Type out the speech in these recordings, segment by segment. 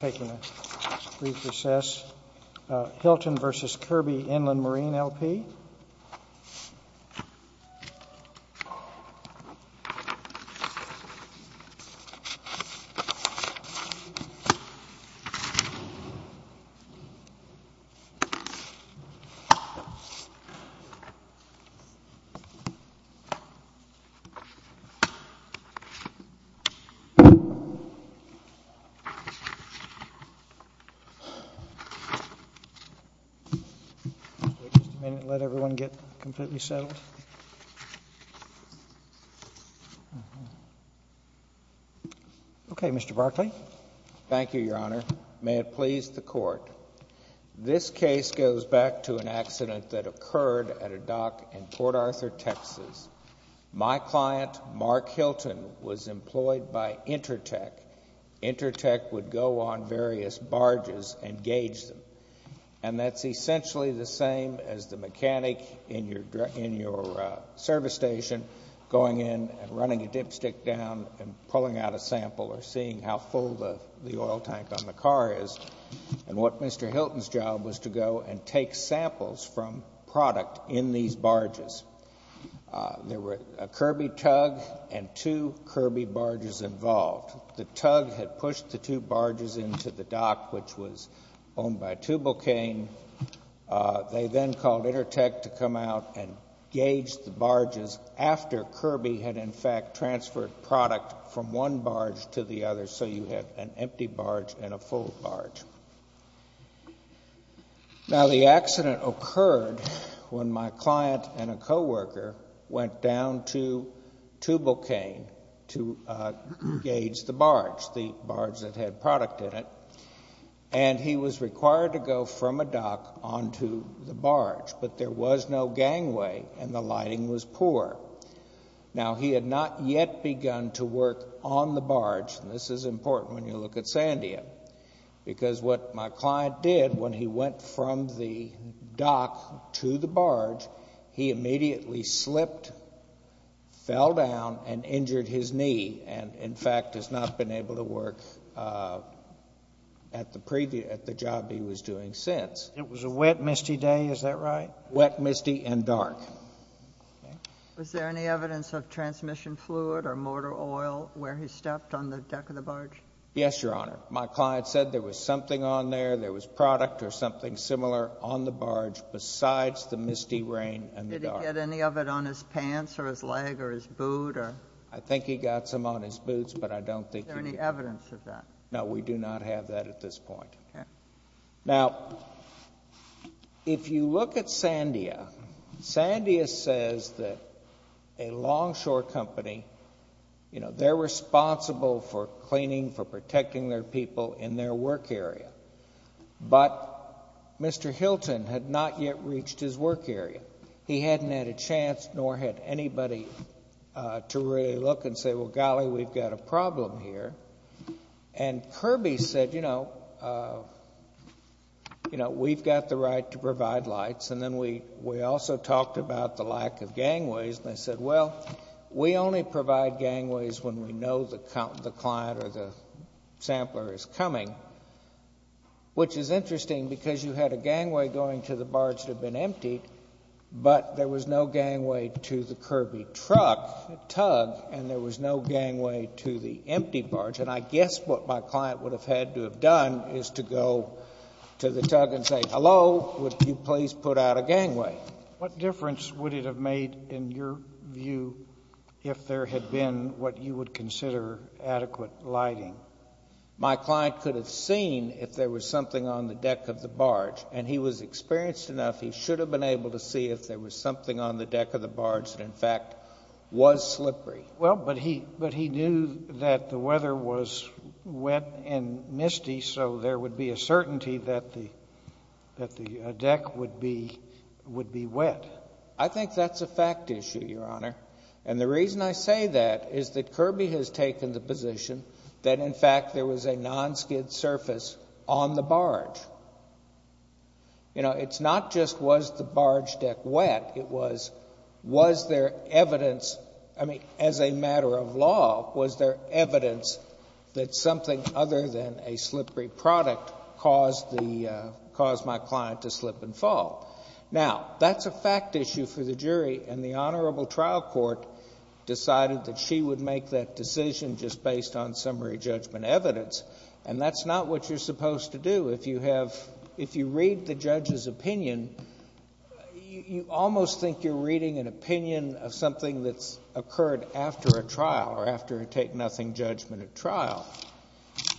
Taking a brief recess, Hilton v. Kirby Inland Marine, L.P. Thank you, Your Honor. May it please the Court. This case goes back to an accident that occurred at a dock in Port Arthur, Texas. My client, Mark Hilton, was employed by Intertech. Intertech would go on various barges and gauge them. And that's essentially the same as the mechanic in your service station going in and running a dipstick down and pulling out a sample or seeing how full the oil tank on the car is. And what Mr. Hilton's job was to go and take samples from product in these barges. There were a Kirby tug and two Kirby barges involved. The tug had pushed the two barges into the dock, which was owned by Tubalcaine. They then called Intertech to come out and gauge the barges after Kirby had, in fact, transferred product from one barge to the other. So you had an empty barge and a full barge. Now the accident occurred when my client and my client engaged the barge, the barge that had product in it, and he was required to go from a dock onto the barge. But there was no gangway and the lighting was poor. Now he had not yet begun to work on the barge, and this is important when you look at Sandia. Because what my client did when he went from the dock to the barge, he immediately slipped, fell down, and injured his knee. And, in fact, has not been able to work at the job he was doing since. It was a wet, misty day, is that right? Wet, misty, and dark. Was there any evidence of transmission fluid or motor oil where he stepped on the deck of the barge? Yes, Your Honor. My client said there was something on there, there was product or something similar on the barge besides the misty rain and the dark. Did he get any of it on his pants or his leg or his boot or? I think he got some on his boots, but I don't think he- Is there any evidence of that? No, we do not have that at this point. Okay. Now, if you look at Sandia, Sandia says that a long shore company, you know, they're responsible for cleaning, for protecting their people in their work area. But Mr. Hilton had not yet reached his work area. He hadn't had a chance, nor had anybody to really look and say, well, golly, we've got a problem here. And Kirby said, you know, we've got the right to provide lights. And then we also talked about the lack of gangways, and I said, well, we only provide gangways when we know the client or the sampler is coming. Which is interesting because you had a gangway going to the barge that had been emptied, but there was no gangway to the Kirby truck, tug, and there was no gangway to the empty barge. And I guess what my client would have had to have done is to go to the tug and say, hello, would you please put out a gangway? What difference would it have made in your view if there had been what you would consider adequate lighting? My client could have seen if there was something on the deck of the barge, and he was experienced enough, he should have been able to see if there was something on the deck of the barge that, in fact, was slippery. Well, but he knew that the weather was wet and misty, so there would be a certainty that the deck would be wet. I think that's a fact issue, Your Honor. And the reason I say that is that Kirby has taken the position that in fact there was a non-skid surface on the barge. You know, it's not just was the barge deck wet, it was, was there evidence, I mean, as a matter of law, was there evidence that something other than a slippery product caused my client to slip and fall? Now, that's a fact issue for the jury, and the Honorable Trial Court decided that she would make that decision just based on summary judgment evidence, and that's not what you're supposed to do. If you have, if you read the judge's opinion, you almost think you're reading an opinion of something that's occurred after a trial or after a take-nothing judgment at trial,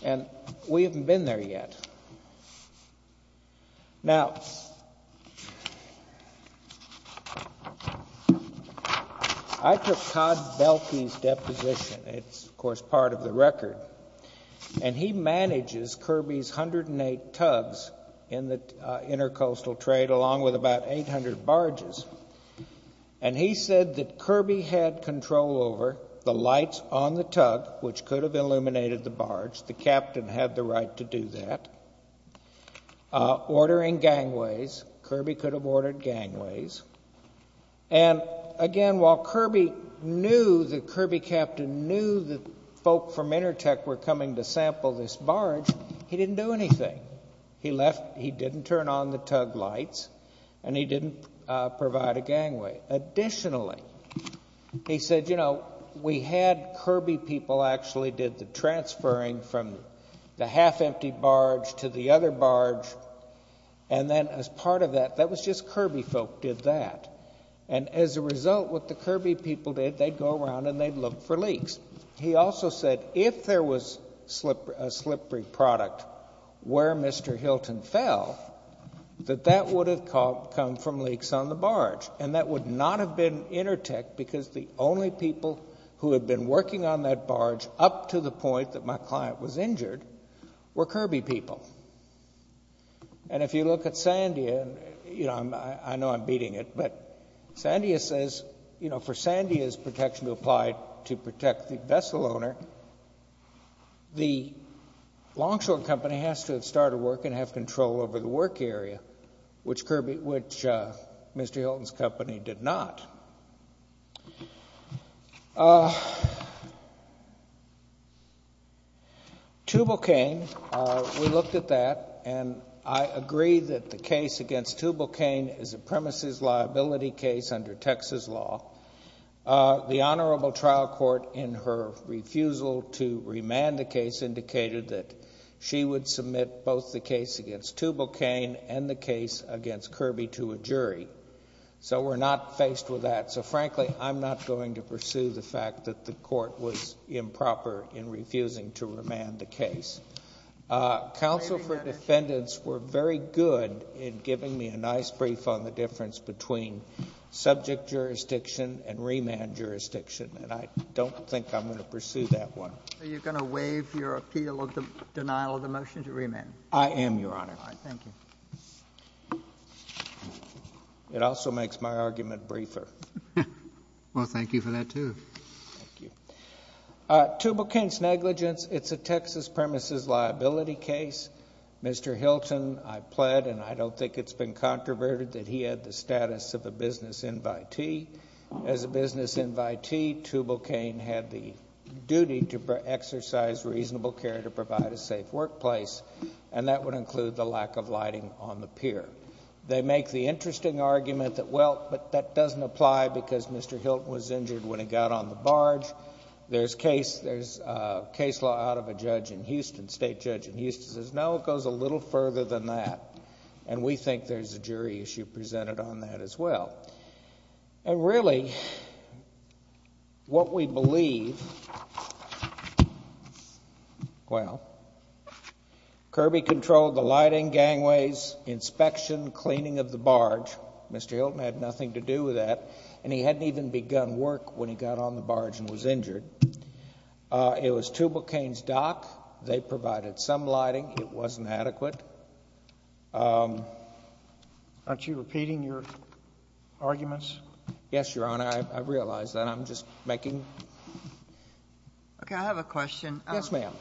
and we haven't been there yet. Now, I took Todd Belkey's deposition, it's, of course, part of the record, and he manages Kirby's 108 tugs in the intercoastal trade along with about 800 barges, and he said that Kirby had control over the lights on the tug, which could have illuminated the barge. The captain had the right to do that. Ordering gangways, Kirby could have ordered gangways, and again, while Kirby knew that Kirby Captain knew that folk from Intertech were coming to sample this barge, he didn't do anything. He left, he didn't turn on the tug lights, and he didn't provide a gangway. Additionally, he said, you know, we had Kirby people actually did the transferring from the half-empty barge to the other barge, and then as part of that, that was just Kirby folk did that. And as a result, what the Kirby people did, they'd go around and they'd look for leaks. He also said, if there was a slippery product where Mr. Hilton fell, that that would have come from leaks on the barge, and that would not have been Intertech because the only people who had been working on that barge up to the point that my client was injured were Kirby people. And if you look at Sandia, you know, I know I'm beating it, but Sandia says, you know, for Sandia's protection to apply to protect the vessel owner, the longshore company has to have started work and have control over the work area, which Kirby, which Mr. Hilton's company did not. Tubalcain, we looked at that, and I agree that the case against Tubalcain is a premises liability case under Texas law. The Honorable Trial Court, in her refusal to remand the case, indicated that she would submit both the case against Tubalcain and the case against Kirby to a jury. So we're not faced with that. So frankly, I'm not going to pursue the fact that the court was improper in refusing to remand the case. Counsel for defendants were very good in giving me a nice brief on the difference between subject jurisdiction and remand jurisdiction, and I don't think I'm going to pursue that one. Are you going to waive your appeal of the denial of the motion to remand? I am, Your Honor. All right, thank you. It also makes my argument briefer. Well, thank you for that, too. Thank you. Tubalcain's negligence, it's a Texas premises liability case. Mr. Hilton, I pled, and I don't think it's been controverted, that he had the status of a business invitee. As a business invitee, Tubalcain had the duty to exercise reasonable care to provide a safe workplace, and that would include the lack of lighting on the pier. They make the interesting argument that, well, but that doesn't apply because Mr. Hilton was injured when he got on the barge. There's case law out of a judge in Houston, state judge in Houston, says, no, it goes a little further than that, and we think there's a jury issue presented on that as well. And really, what we believe, well, Kirby controlled the lighting, gangways, inspection, cleaning of the barge. Mr. Hilton had nothing to do with that, and he hadn't even begun work when he got on the barge and was injured. It was Tubalcain's dock. They provided some lighting. It wasn't adequate. Aren't you repeating your arguments? Yes, Your Honor, I realize that. I'm just making. OK, I have a question. Yes, ma'am.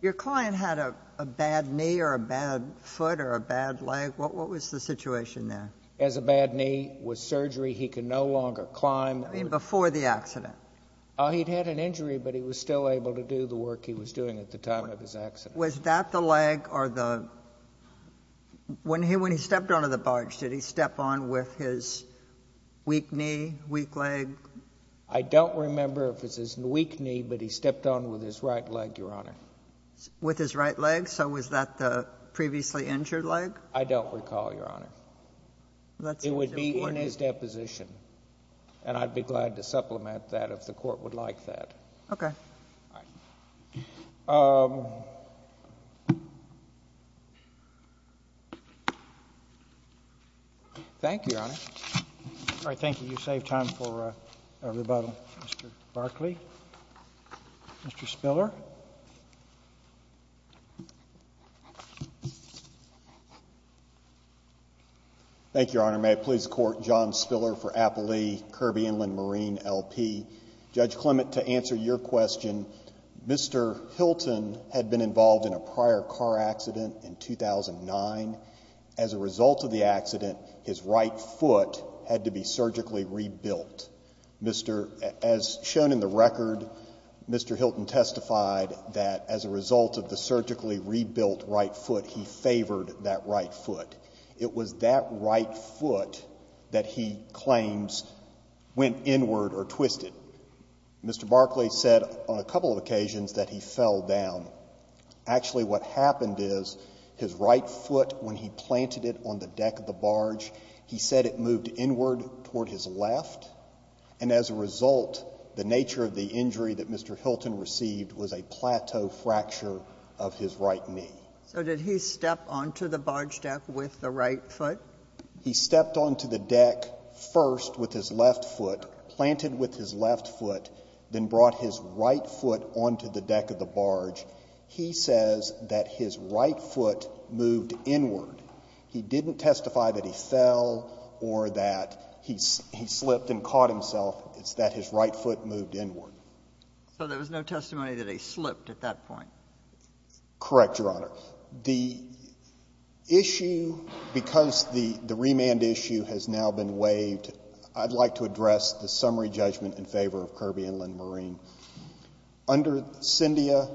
Your client had a bad knee or a bad foot or a bad leg. What was the situation there? He has a bad knee. With surgery, he can no longer climb. I mean, before the accident. He'd had an injury, but he was still able to do the work he was doing at the time of his accident. Was that the leg or the? When he stepped onto the barge, did he step on with his weak knee, weak leg? I don't remember if it was his weak knee, but he stepped on with his right leg, Your Honor. With his right leg? So was that the previously injured leg? I don't recall, Your Honor. It would be in his deposition, and I'd be glad to supplement that if the court would like that. OK. Thank you, Your Honor. All right, thank you. You saved time for a rebuttal, Mr. Barkley. Mr. Spiller. Thank you, Your Honor. May it please the court, John Spiller for Appalachee-Kirby Inland Marine, LP. Judge Clement, to answer your question, Mr. Hilton had been involved in a prior car accident in 2009. As a result of the accident, his right foot had to be surgically rebuilt. Mr. As shown in the record, Mr. Hilton testified that as a result of the surgically rebuilt right foot, he favored that right foot. It was that right foot that he claims went inward or twisted. Mr. Barkley said on a couple of occasions that he fell down. Actually, what happened is his right foot, when he planted it on the deck of the barge, he said it moved inward toward his left. And as a result, the nature of the injury that Mr. Hilton received was a plateau fracture of his right knee. So did he step onto the barge deck with the right foot? He stepped onto the deck first with his left foot, planted with his left foot, then brought his right foot onto the deck of the barge. He says that his right foot moved inward. He didn't testify that he fell or that he slipped and caught himself. It's that his right foot moved inward. So there was no testimony that he slipped at that point? Correct, Your Honor. The issue, because the remand issue has now been waived, I'd like to address the summary judgment in favor of Kirby and Lynn Marine. Under CINDIA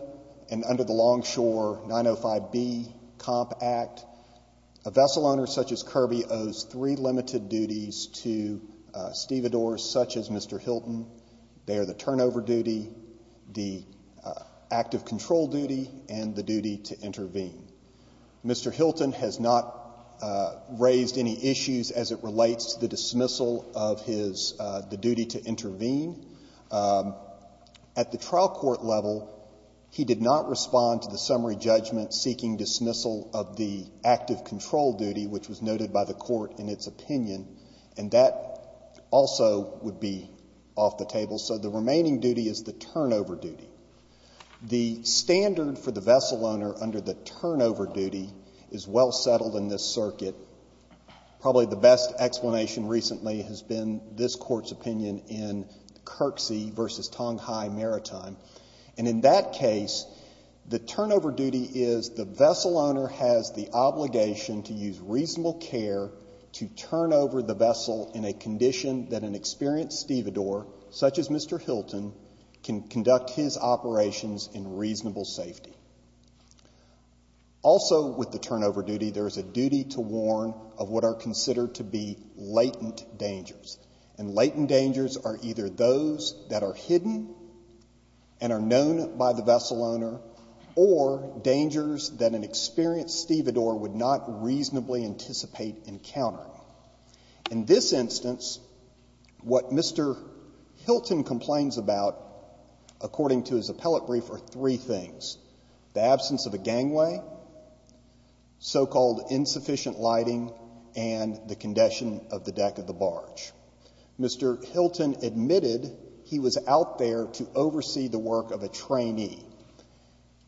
and under the Longshore 905B Comp Act, a vessel owner such as Kirby owes three limited duties to stevedores such as Mr. Hilton. They are the turnover duty, the active control duty, and the duty to intervene. Mr. Hilton has not raised any issues as it relates to the dismissal of the duty to intervene. At the trial court level, he did not respond to the summary judgment seeking dismissal of the active control duty, which was noted by the court in its opinion. And that also would be off the table. So the remaining duty is the turnover duty. The standard for the vessel owner under the turnover duty is well settled in this circuit. Probably the best explanation recently has been this court's opinion in Kirksey versus Tonghai Maritime. And in that case, the turnover duty is the vessel owner has the obligation to use reasonable care to turn over the vessel in a condition that an experienced stevedore, such as Mr. Hilton, can conduct his operations in reasonable safety. Also with the turnover duty, there is a duty to warn of what are considered to be latent dangers. And latent dangers are either those that are hidden and are known by the vessel owner, or dangers that an experienced stevedore would not reasonably anticipate encountering. In this instance, what Mr. Hilton complains about, according to his appellate brief, are three things. The absence of a gangway, so-called insufficient lighting, and the condition of the deck of the barge. Mr. Hilton admitted he was out there to oversee the work of a trainee.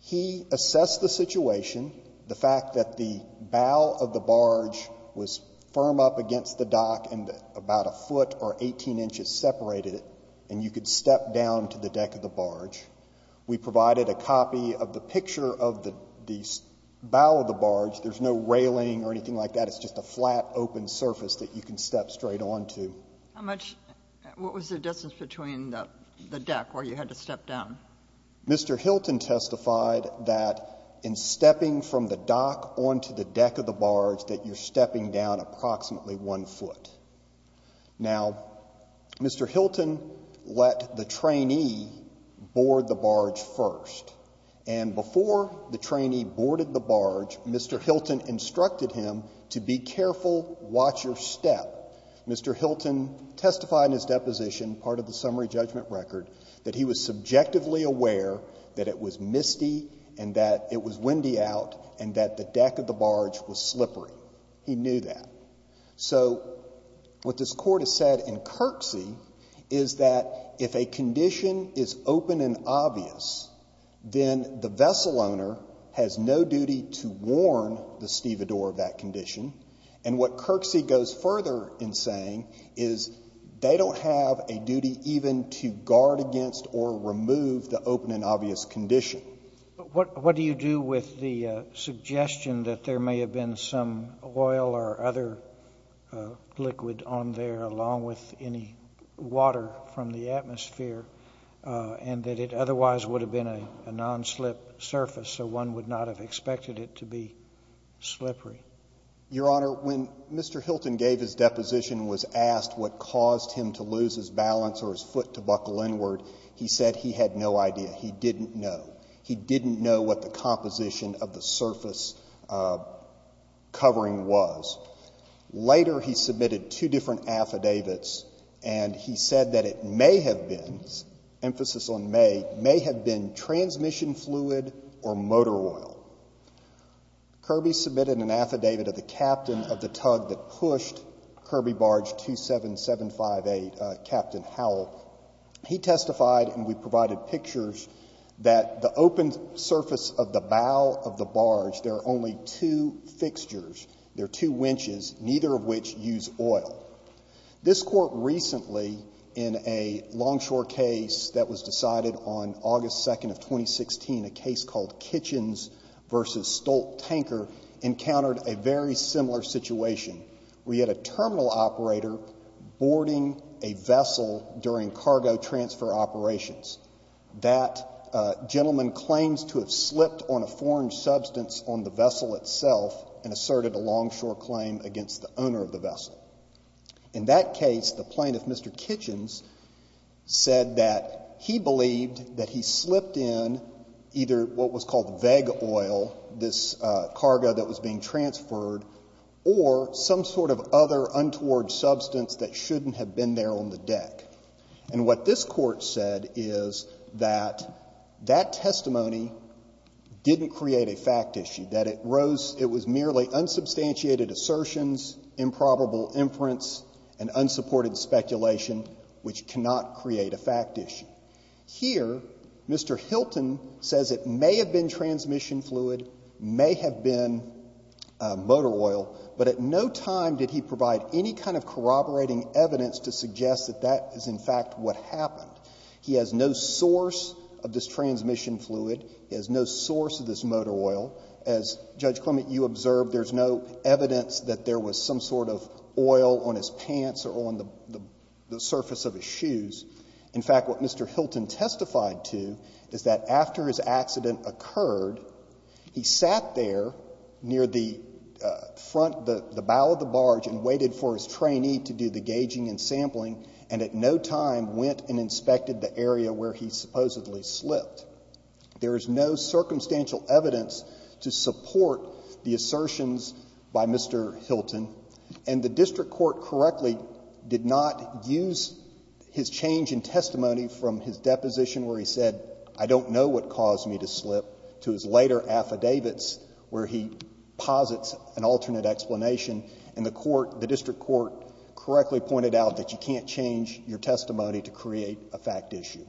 He assessed the situation, the fact that the bow of the barge was firm up against the dock and about a foot or 18 inches separated it, and you could step down to the deck of the barge. We provided a copy of the picture of the bow of the barge. There's no railing or anything like that. It's just a flat, open surface that you can step straight onto. What was the distance between the deck where you had to step down? Mr. Hilton testified that in stepping from the dock onto the deck of the barge, that you're stepping down approximately one foot. Now, Mr. Hilton let the trainee board the barge first, and before the trainee boarded the barge, Mr. Hilton instructed him to be careful, watch your step. Mr. Hilton testified in his deposition, part of the summary judgment record, that he was subjectively aware that it was misty and that it was windy out and that the deck of the barge was slippery. He knew that. So what this Court has said in Kirksey is that if a condition is open and obvious, then the vessel owner has no duty to warn the stevedore of that condition. And what Kirksey goes further in saying is they don't have a duty even to guard against or remove the open and obvious condition. What do you do with the suggestion that there may have been some oil or other liquid on there along with any water from the atmosphere and that it otherwise would have been a non-slip surface, so one would not have expected it to be slippery? Your Honor, when Mr. Hilton gave his deposition and was asked what caused him to lose his balance or his foot to buckle inward, he said he had no idea. He didn't know. He didn't know what the composition of the surface covering was. Later, he submitted two different affidavits and he said that it may have been, emphasis on may, may have been transmission fluid or motor oil. Kirby submitted an affidavit of the captain of the tug that pushed Kirby Barge 27758, Captain Howell. He testified and we provided pictures that the open surface of the bow of the barge, there are only two fixtures, there are two winches, neither of which use oil. This court recently in a longshore case that was decided on August 2nd of 2016, a case called Kitchens versus Stolt Tanker, encountered a very similar situation. We had a terminal operator boarding a vessel during cargo transfer operations. That gentleman claims to have slipped on a foreign substance on the vessel itself and asserted a longshore claim against the owner of the vessel. In that case, the plaintiff, Mr. Kitchens, said that he believed that he slipped in either what was called vague oil, this cargo that was being transferred, or some sort of other untoward substance that shouldn't have been there on the deck. And what this court said is that that testimony didn't create a fact issue, that it rose, it was merely unsubstantiated assertions, improbable inference, and unsupported speculation, which cannot create a fact issue. Here, Mr. Hilton says it may have been transmission fluid, may have been motor oil, but at no time did he provide any kind of corroborating evidence to suggest that that is in fact what happened. He has no source of this transmission fluid, he has no source of this motor oil. As Judge Clement, you observed, there's no evidence that there was some sort of oil on his pants or on the surface of his shoes. In fact, what Mr. Hilton testified to is that after his accident occurred, he sat there near the front, the bow of the barge, and waited for his trainee to do the gauging and sampling, and at no time went and inspected the area where he supposedly slipped. There is no circumstantial evidence to support the assertions by Mr. Hilton, and the district court correctly did not use his change in testimony from his deposition where he said, I don't know what caused me to slip, to his later affidavits where he posits an alternate explanation, and the court, the district court, correctly pointed out that you can't change your testimony to create a fact issue.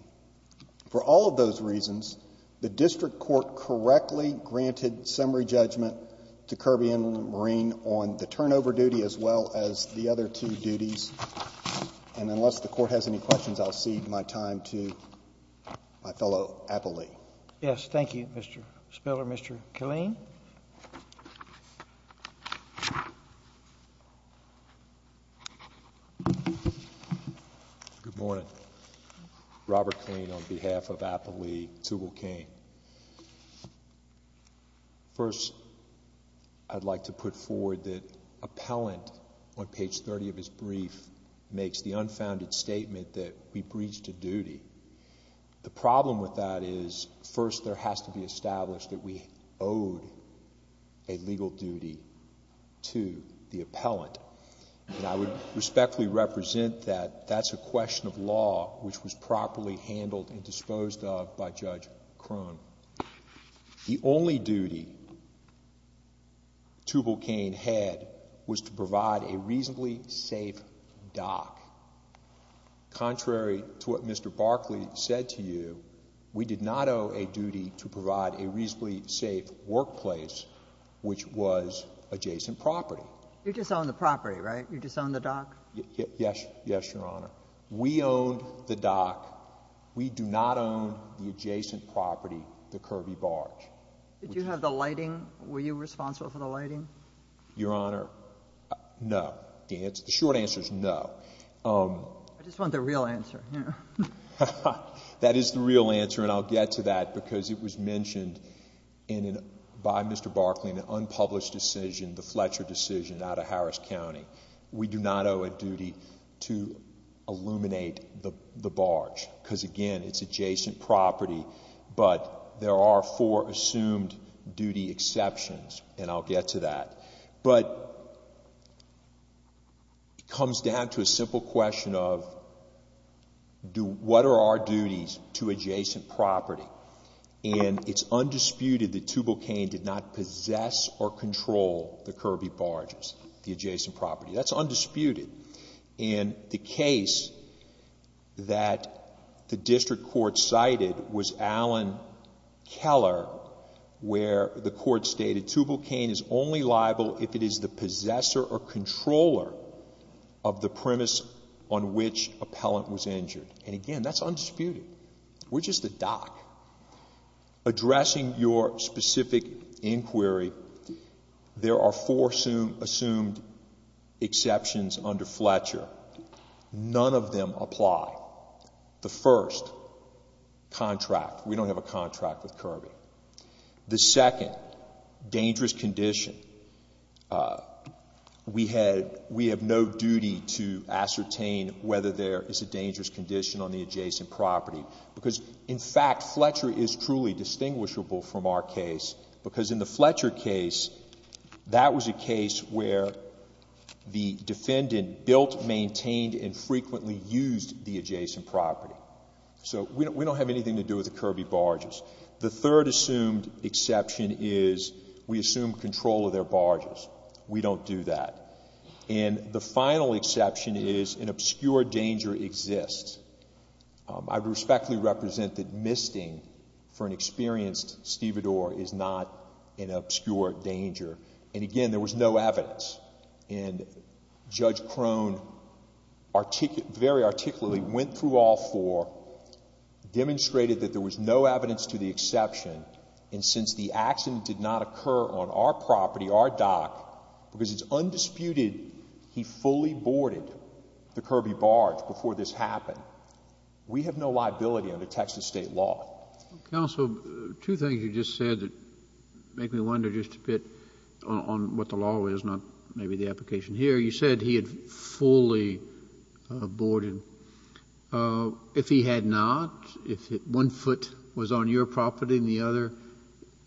For all of those reasons, the district court correctly granted summary judgment to Kirby and Marine on the turnover duty as well as the other two duties, and unless the court has any questions, I'll cede my time to my fellow appellee. Yes, thank you, Mr. Spiller. Mr. Killeen? Good morning. Robert Killeen on behalf of Appellee Tugelkane. First, I'd like to put forward that appellant on page 30 of his brief makes the unfounded statement that we breached a duty. The problem with that is, first, there has to be established that we owed a legal duty to the appellant, and I would respectfully represent that. That's a question of law which was properly handled and disposed of by Judge Crone. The only duty Tugelkane had was to provide a reasonably safe dock. Contrary to what Mr. Barkley said to you, we did not owe a duty to provide a reasonably safe workplace, which was adjacent property. You just own the property, right? You just own the dock? Yes, Your Honor. We own the dock. We do not own the adjacent property, the Kirby Barge. Did you have the lighting? Were you responsible for the lighting? Your Honor, no. The short answer is no. I just want the real answer here. That is the real answer, and I'll get to that because it was mentioned by Mr. Barkley in an unpublished decision, the Fletcher decision out of Harris County. We do not owe a duty to illuminate the barge because, again, it's adjacent property, but there are four assumed duty exceptions, and I'll get to that. But it comes down to a simple question of what are our duties to adjacent property, and it's undisputed that Tugelkane did not possess or control the Kirby Barges, the adjacent property. That's undisputed, and the case that the district court cited was Allen Keller, where the court stated Tugelkane is only liable if it is the possessor or controller of the premise on which appellant was injured, and again, that's undisputed. We're just the dock. Addressing your specific inquiry, there are four assumed exceptions under Fletcher. None of them apply. The first, contract. We don't have a contract with Kirby. The second, dangerous condition. We have no duty to ascertain whether there is a dangerous condition on the adjacent property because, in fact, Fletcher is truly distinguishable from our case because in the Fletcher case, that was a case where the defendant built, maintained, and frequently used the adjacent property. So we don't have anything to do with the Kirby Barges. The third assumed exception is we assume control of their barges. We don't do that. And the final exception is an obscure danger exists. I would respectfully represent that misting for an experienced stevedore is not an obscure danger. And again, there was no evidence. And Judge Crone very articulately went through all four, demonstrated that there was no evidence to the exception, and since the accident did not occur on our property, our dock, because it's undisputed he fully boarded the Kirby Barge before this happened, we have no liability under Texas state law. Counsel, two things you just said that make me wonder just a bit on what the law is, not maybe the application here. You said he had fully boarded. If he had not, if one foot was on your property and the other,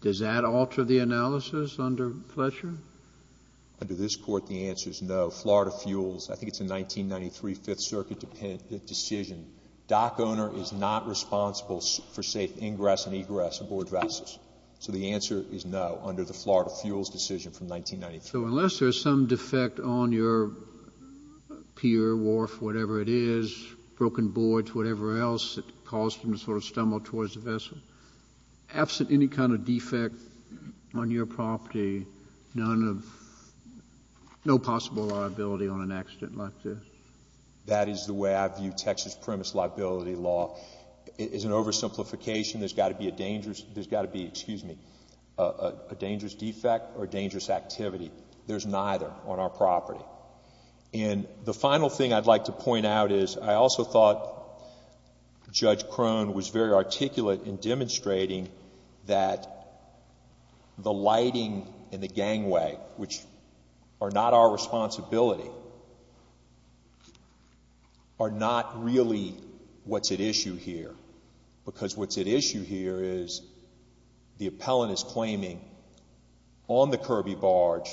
does that alter the analysis under Fletcher? Under this court, the answer is no. Florida Fuels, I think it's a 1993 Fifth Circuit decision. Dock owner is not responsible for safe ingress and egress aboard vessels. So the answer is no under the Florida Fuels decision from 1993. So unless there's some defect on your pier, wharf, whatever it is, broken boards, whatever else that caused him to sort of stumble towards the vessel, absent any kind of defect on your property, none of, no possible liability on an accident like this. That is the way I view Texas premise liability law. It's an oversimplification. There's got to be a dangerous, there's got to be, excuse me, a dangerous defect or dangerous activity. There's neither on our property. And the final thing I'd like to point out is, I also thought Judge Crone was very articulate in demonstrating that the lighting and the gangway, which are not our responsibility, are not really what's at issue here. Because what's at issue here is the appellant is claiming, on the Kirby barge,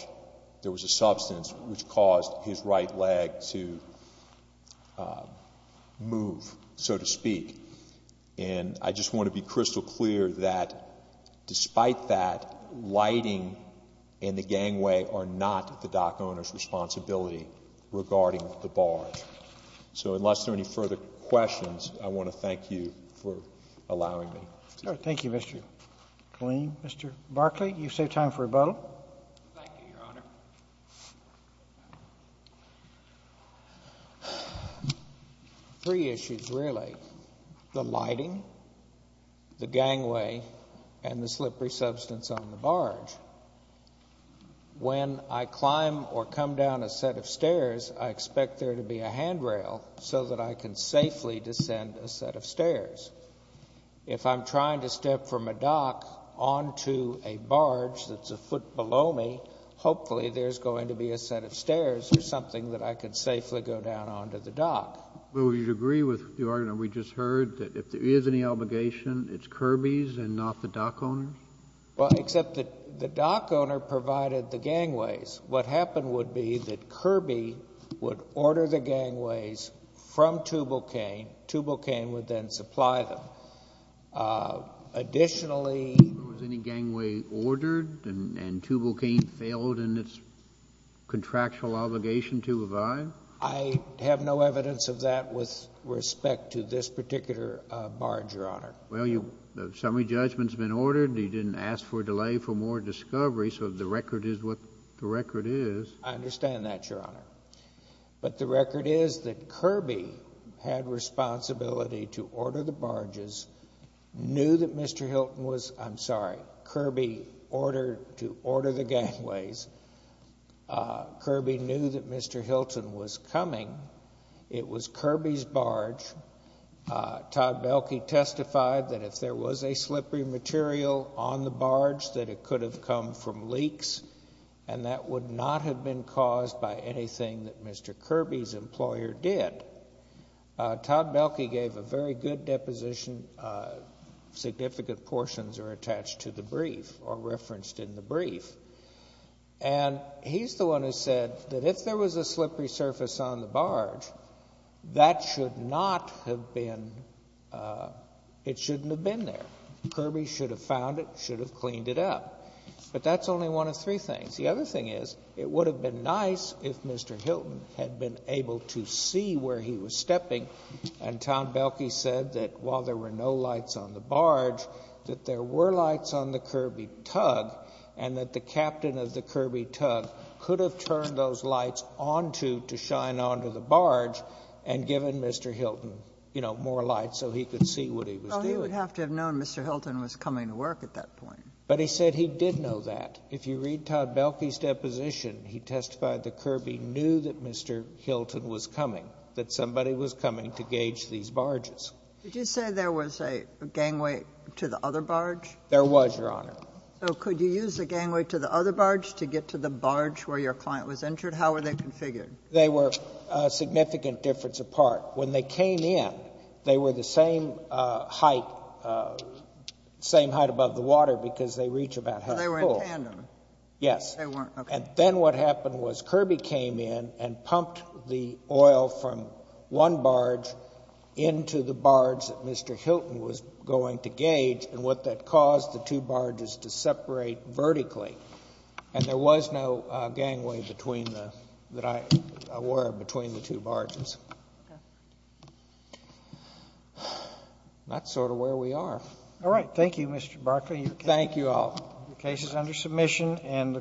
there was a substance which caused his right leg to move, so to speak. And I just want to be crystal clear that despite that, lighting and the gangway are not the dock owner's responsibility regarding the barge. So unless there are any further questions, I want to thank you for allowing me. Thank you, Mr. Killeen. Mr. Barkley, you've saved time for a bow. Thank you, Your Honor. Three issues, really. The lighting, the gangway, and the slippery substance on the barge. When I climb or come down a set of stairs, I expect there to be a handrail so that I can safely descend a set of stairs. If I'm trying to step from a dock onto a barge that's a foot below me, hopefully there's going to be a set of stairs or something that I could safely go down onto the dock. Well, would you agree with the argument we just heard, that if there is any obligation, it's Kirby's and not the dock owner's? Well, except that the dock owner provided the gangways. What happened would be that Kirby would order the gangways from Tubulcain. Tubulcain would then supply them. Additionally, if there was any gangway ordered and Tubulcain failed in its contractual obligation to abide? I have no evidence of that with respect to this particular barge, Your Honor. Well, the summary judgment's been ordered. He didn't ask for a delay for more discovery. So the record is what the record is. I understand that, Your Honor. But the record is that Kirby had responsibility to order the barges, knew that Mr. Hilton was, I'm sorry, Kirby ordered to order the gangways. Kirby knew that Mr. Hilton was coming. It was Kirby's barge. Todd Belkey testified that if there was a slippery material on the barge, that it could have come from leaks, and that would not have been caused by anything that Mr. Kirby's employer did. Todd Belkey gave a very good deposition. Significant portions are attached to the brief or referenced in the brief. And he's the one who said that if there was a slippery surface on the barge, that should not have been, it shouldn't have been there. Kirby should have found it, should have cleaned it up. But that's only one of three things. The other thing is, it would have been nice if Mr. Hilton had been able to see where he was stepping. And Todd Belkey said that while there were no lights on the barge, that there were lights on the Kirby tug, and that the captain of the Kirby tug could have turned those lights onto to shine onto the barge and given Mr. Hilton, you know, more light so he could see what he was doing. Oh, he would have to have known Mr. Hilton was coming to work at that point. But he said he did know that. If you read Todd Belkey's deposition, he testified that Kirby knew that Mr. Hilton was coming, that somebody was coming to gauge these barges. Did you say there was a gangway to the other barge? There was, Your Honor. So could you use the gangway to the other barge to get to the barge where your client was entered? How were they configured? They were a significant difference apart. When they came in, they were the same height, same height above the water because they reach about half the pool. So they were in tandem? Yes. They weren't, okay. And then what happened was Kirby came in and pumped the oil from one barge into the barge that Mr. Hilton was going to gauge and what that caused the two barges to separate vertically. And there was no gangway between the, that I, or between the two barges. That's sort of where we are. All right. Thank you, Mr. Barkley. Thank you all. The case is under submission and the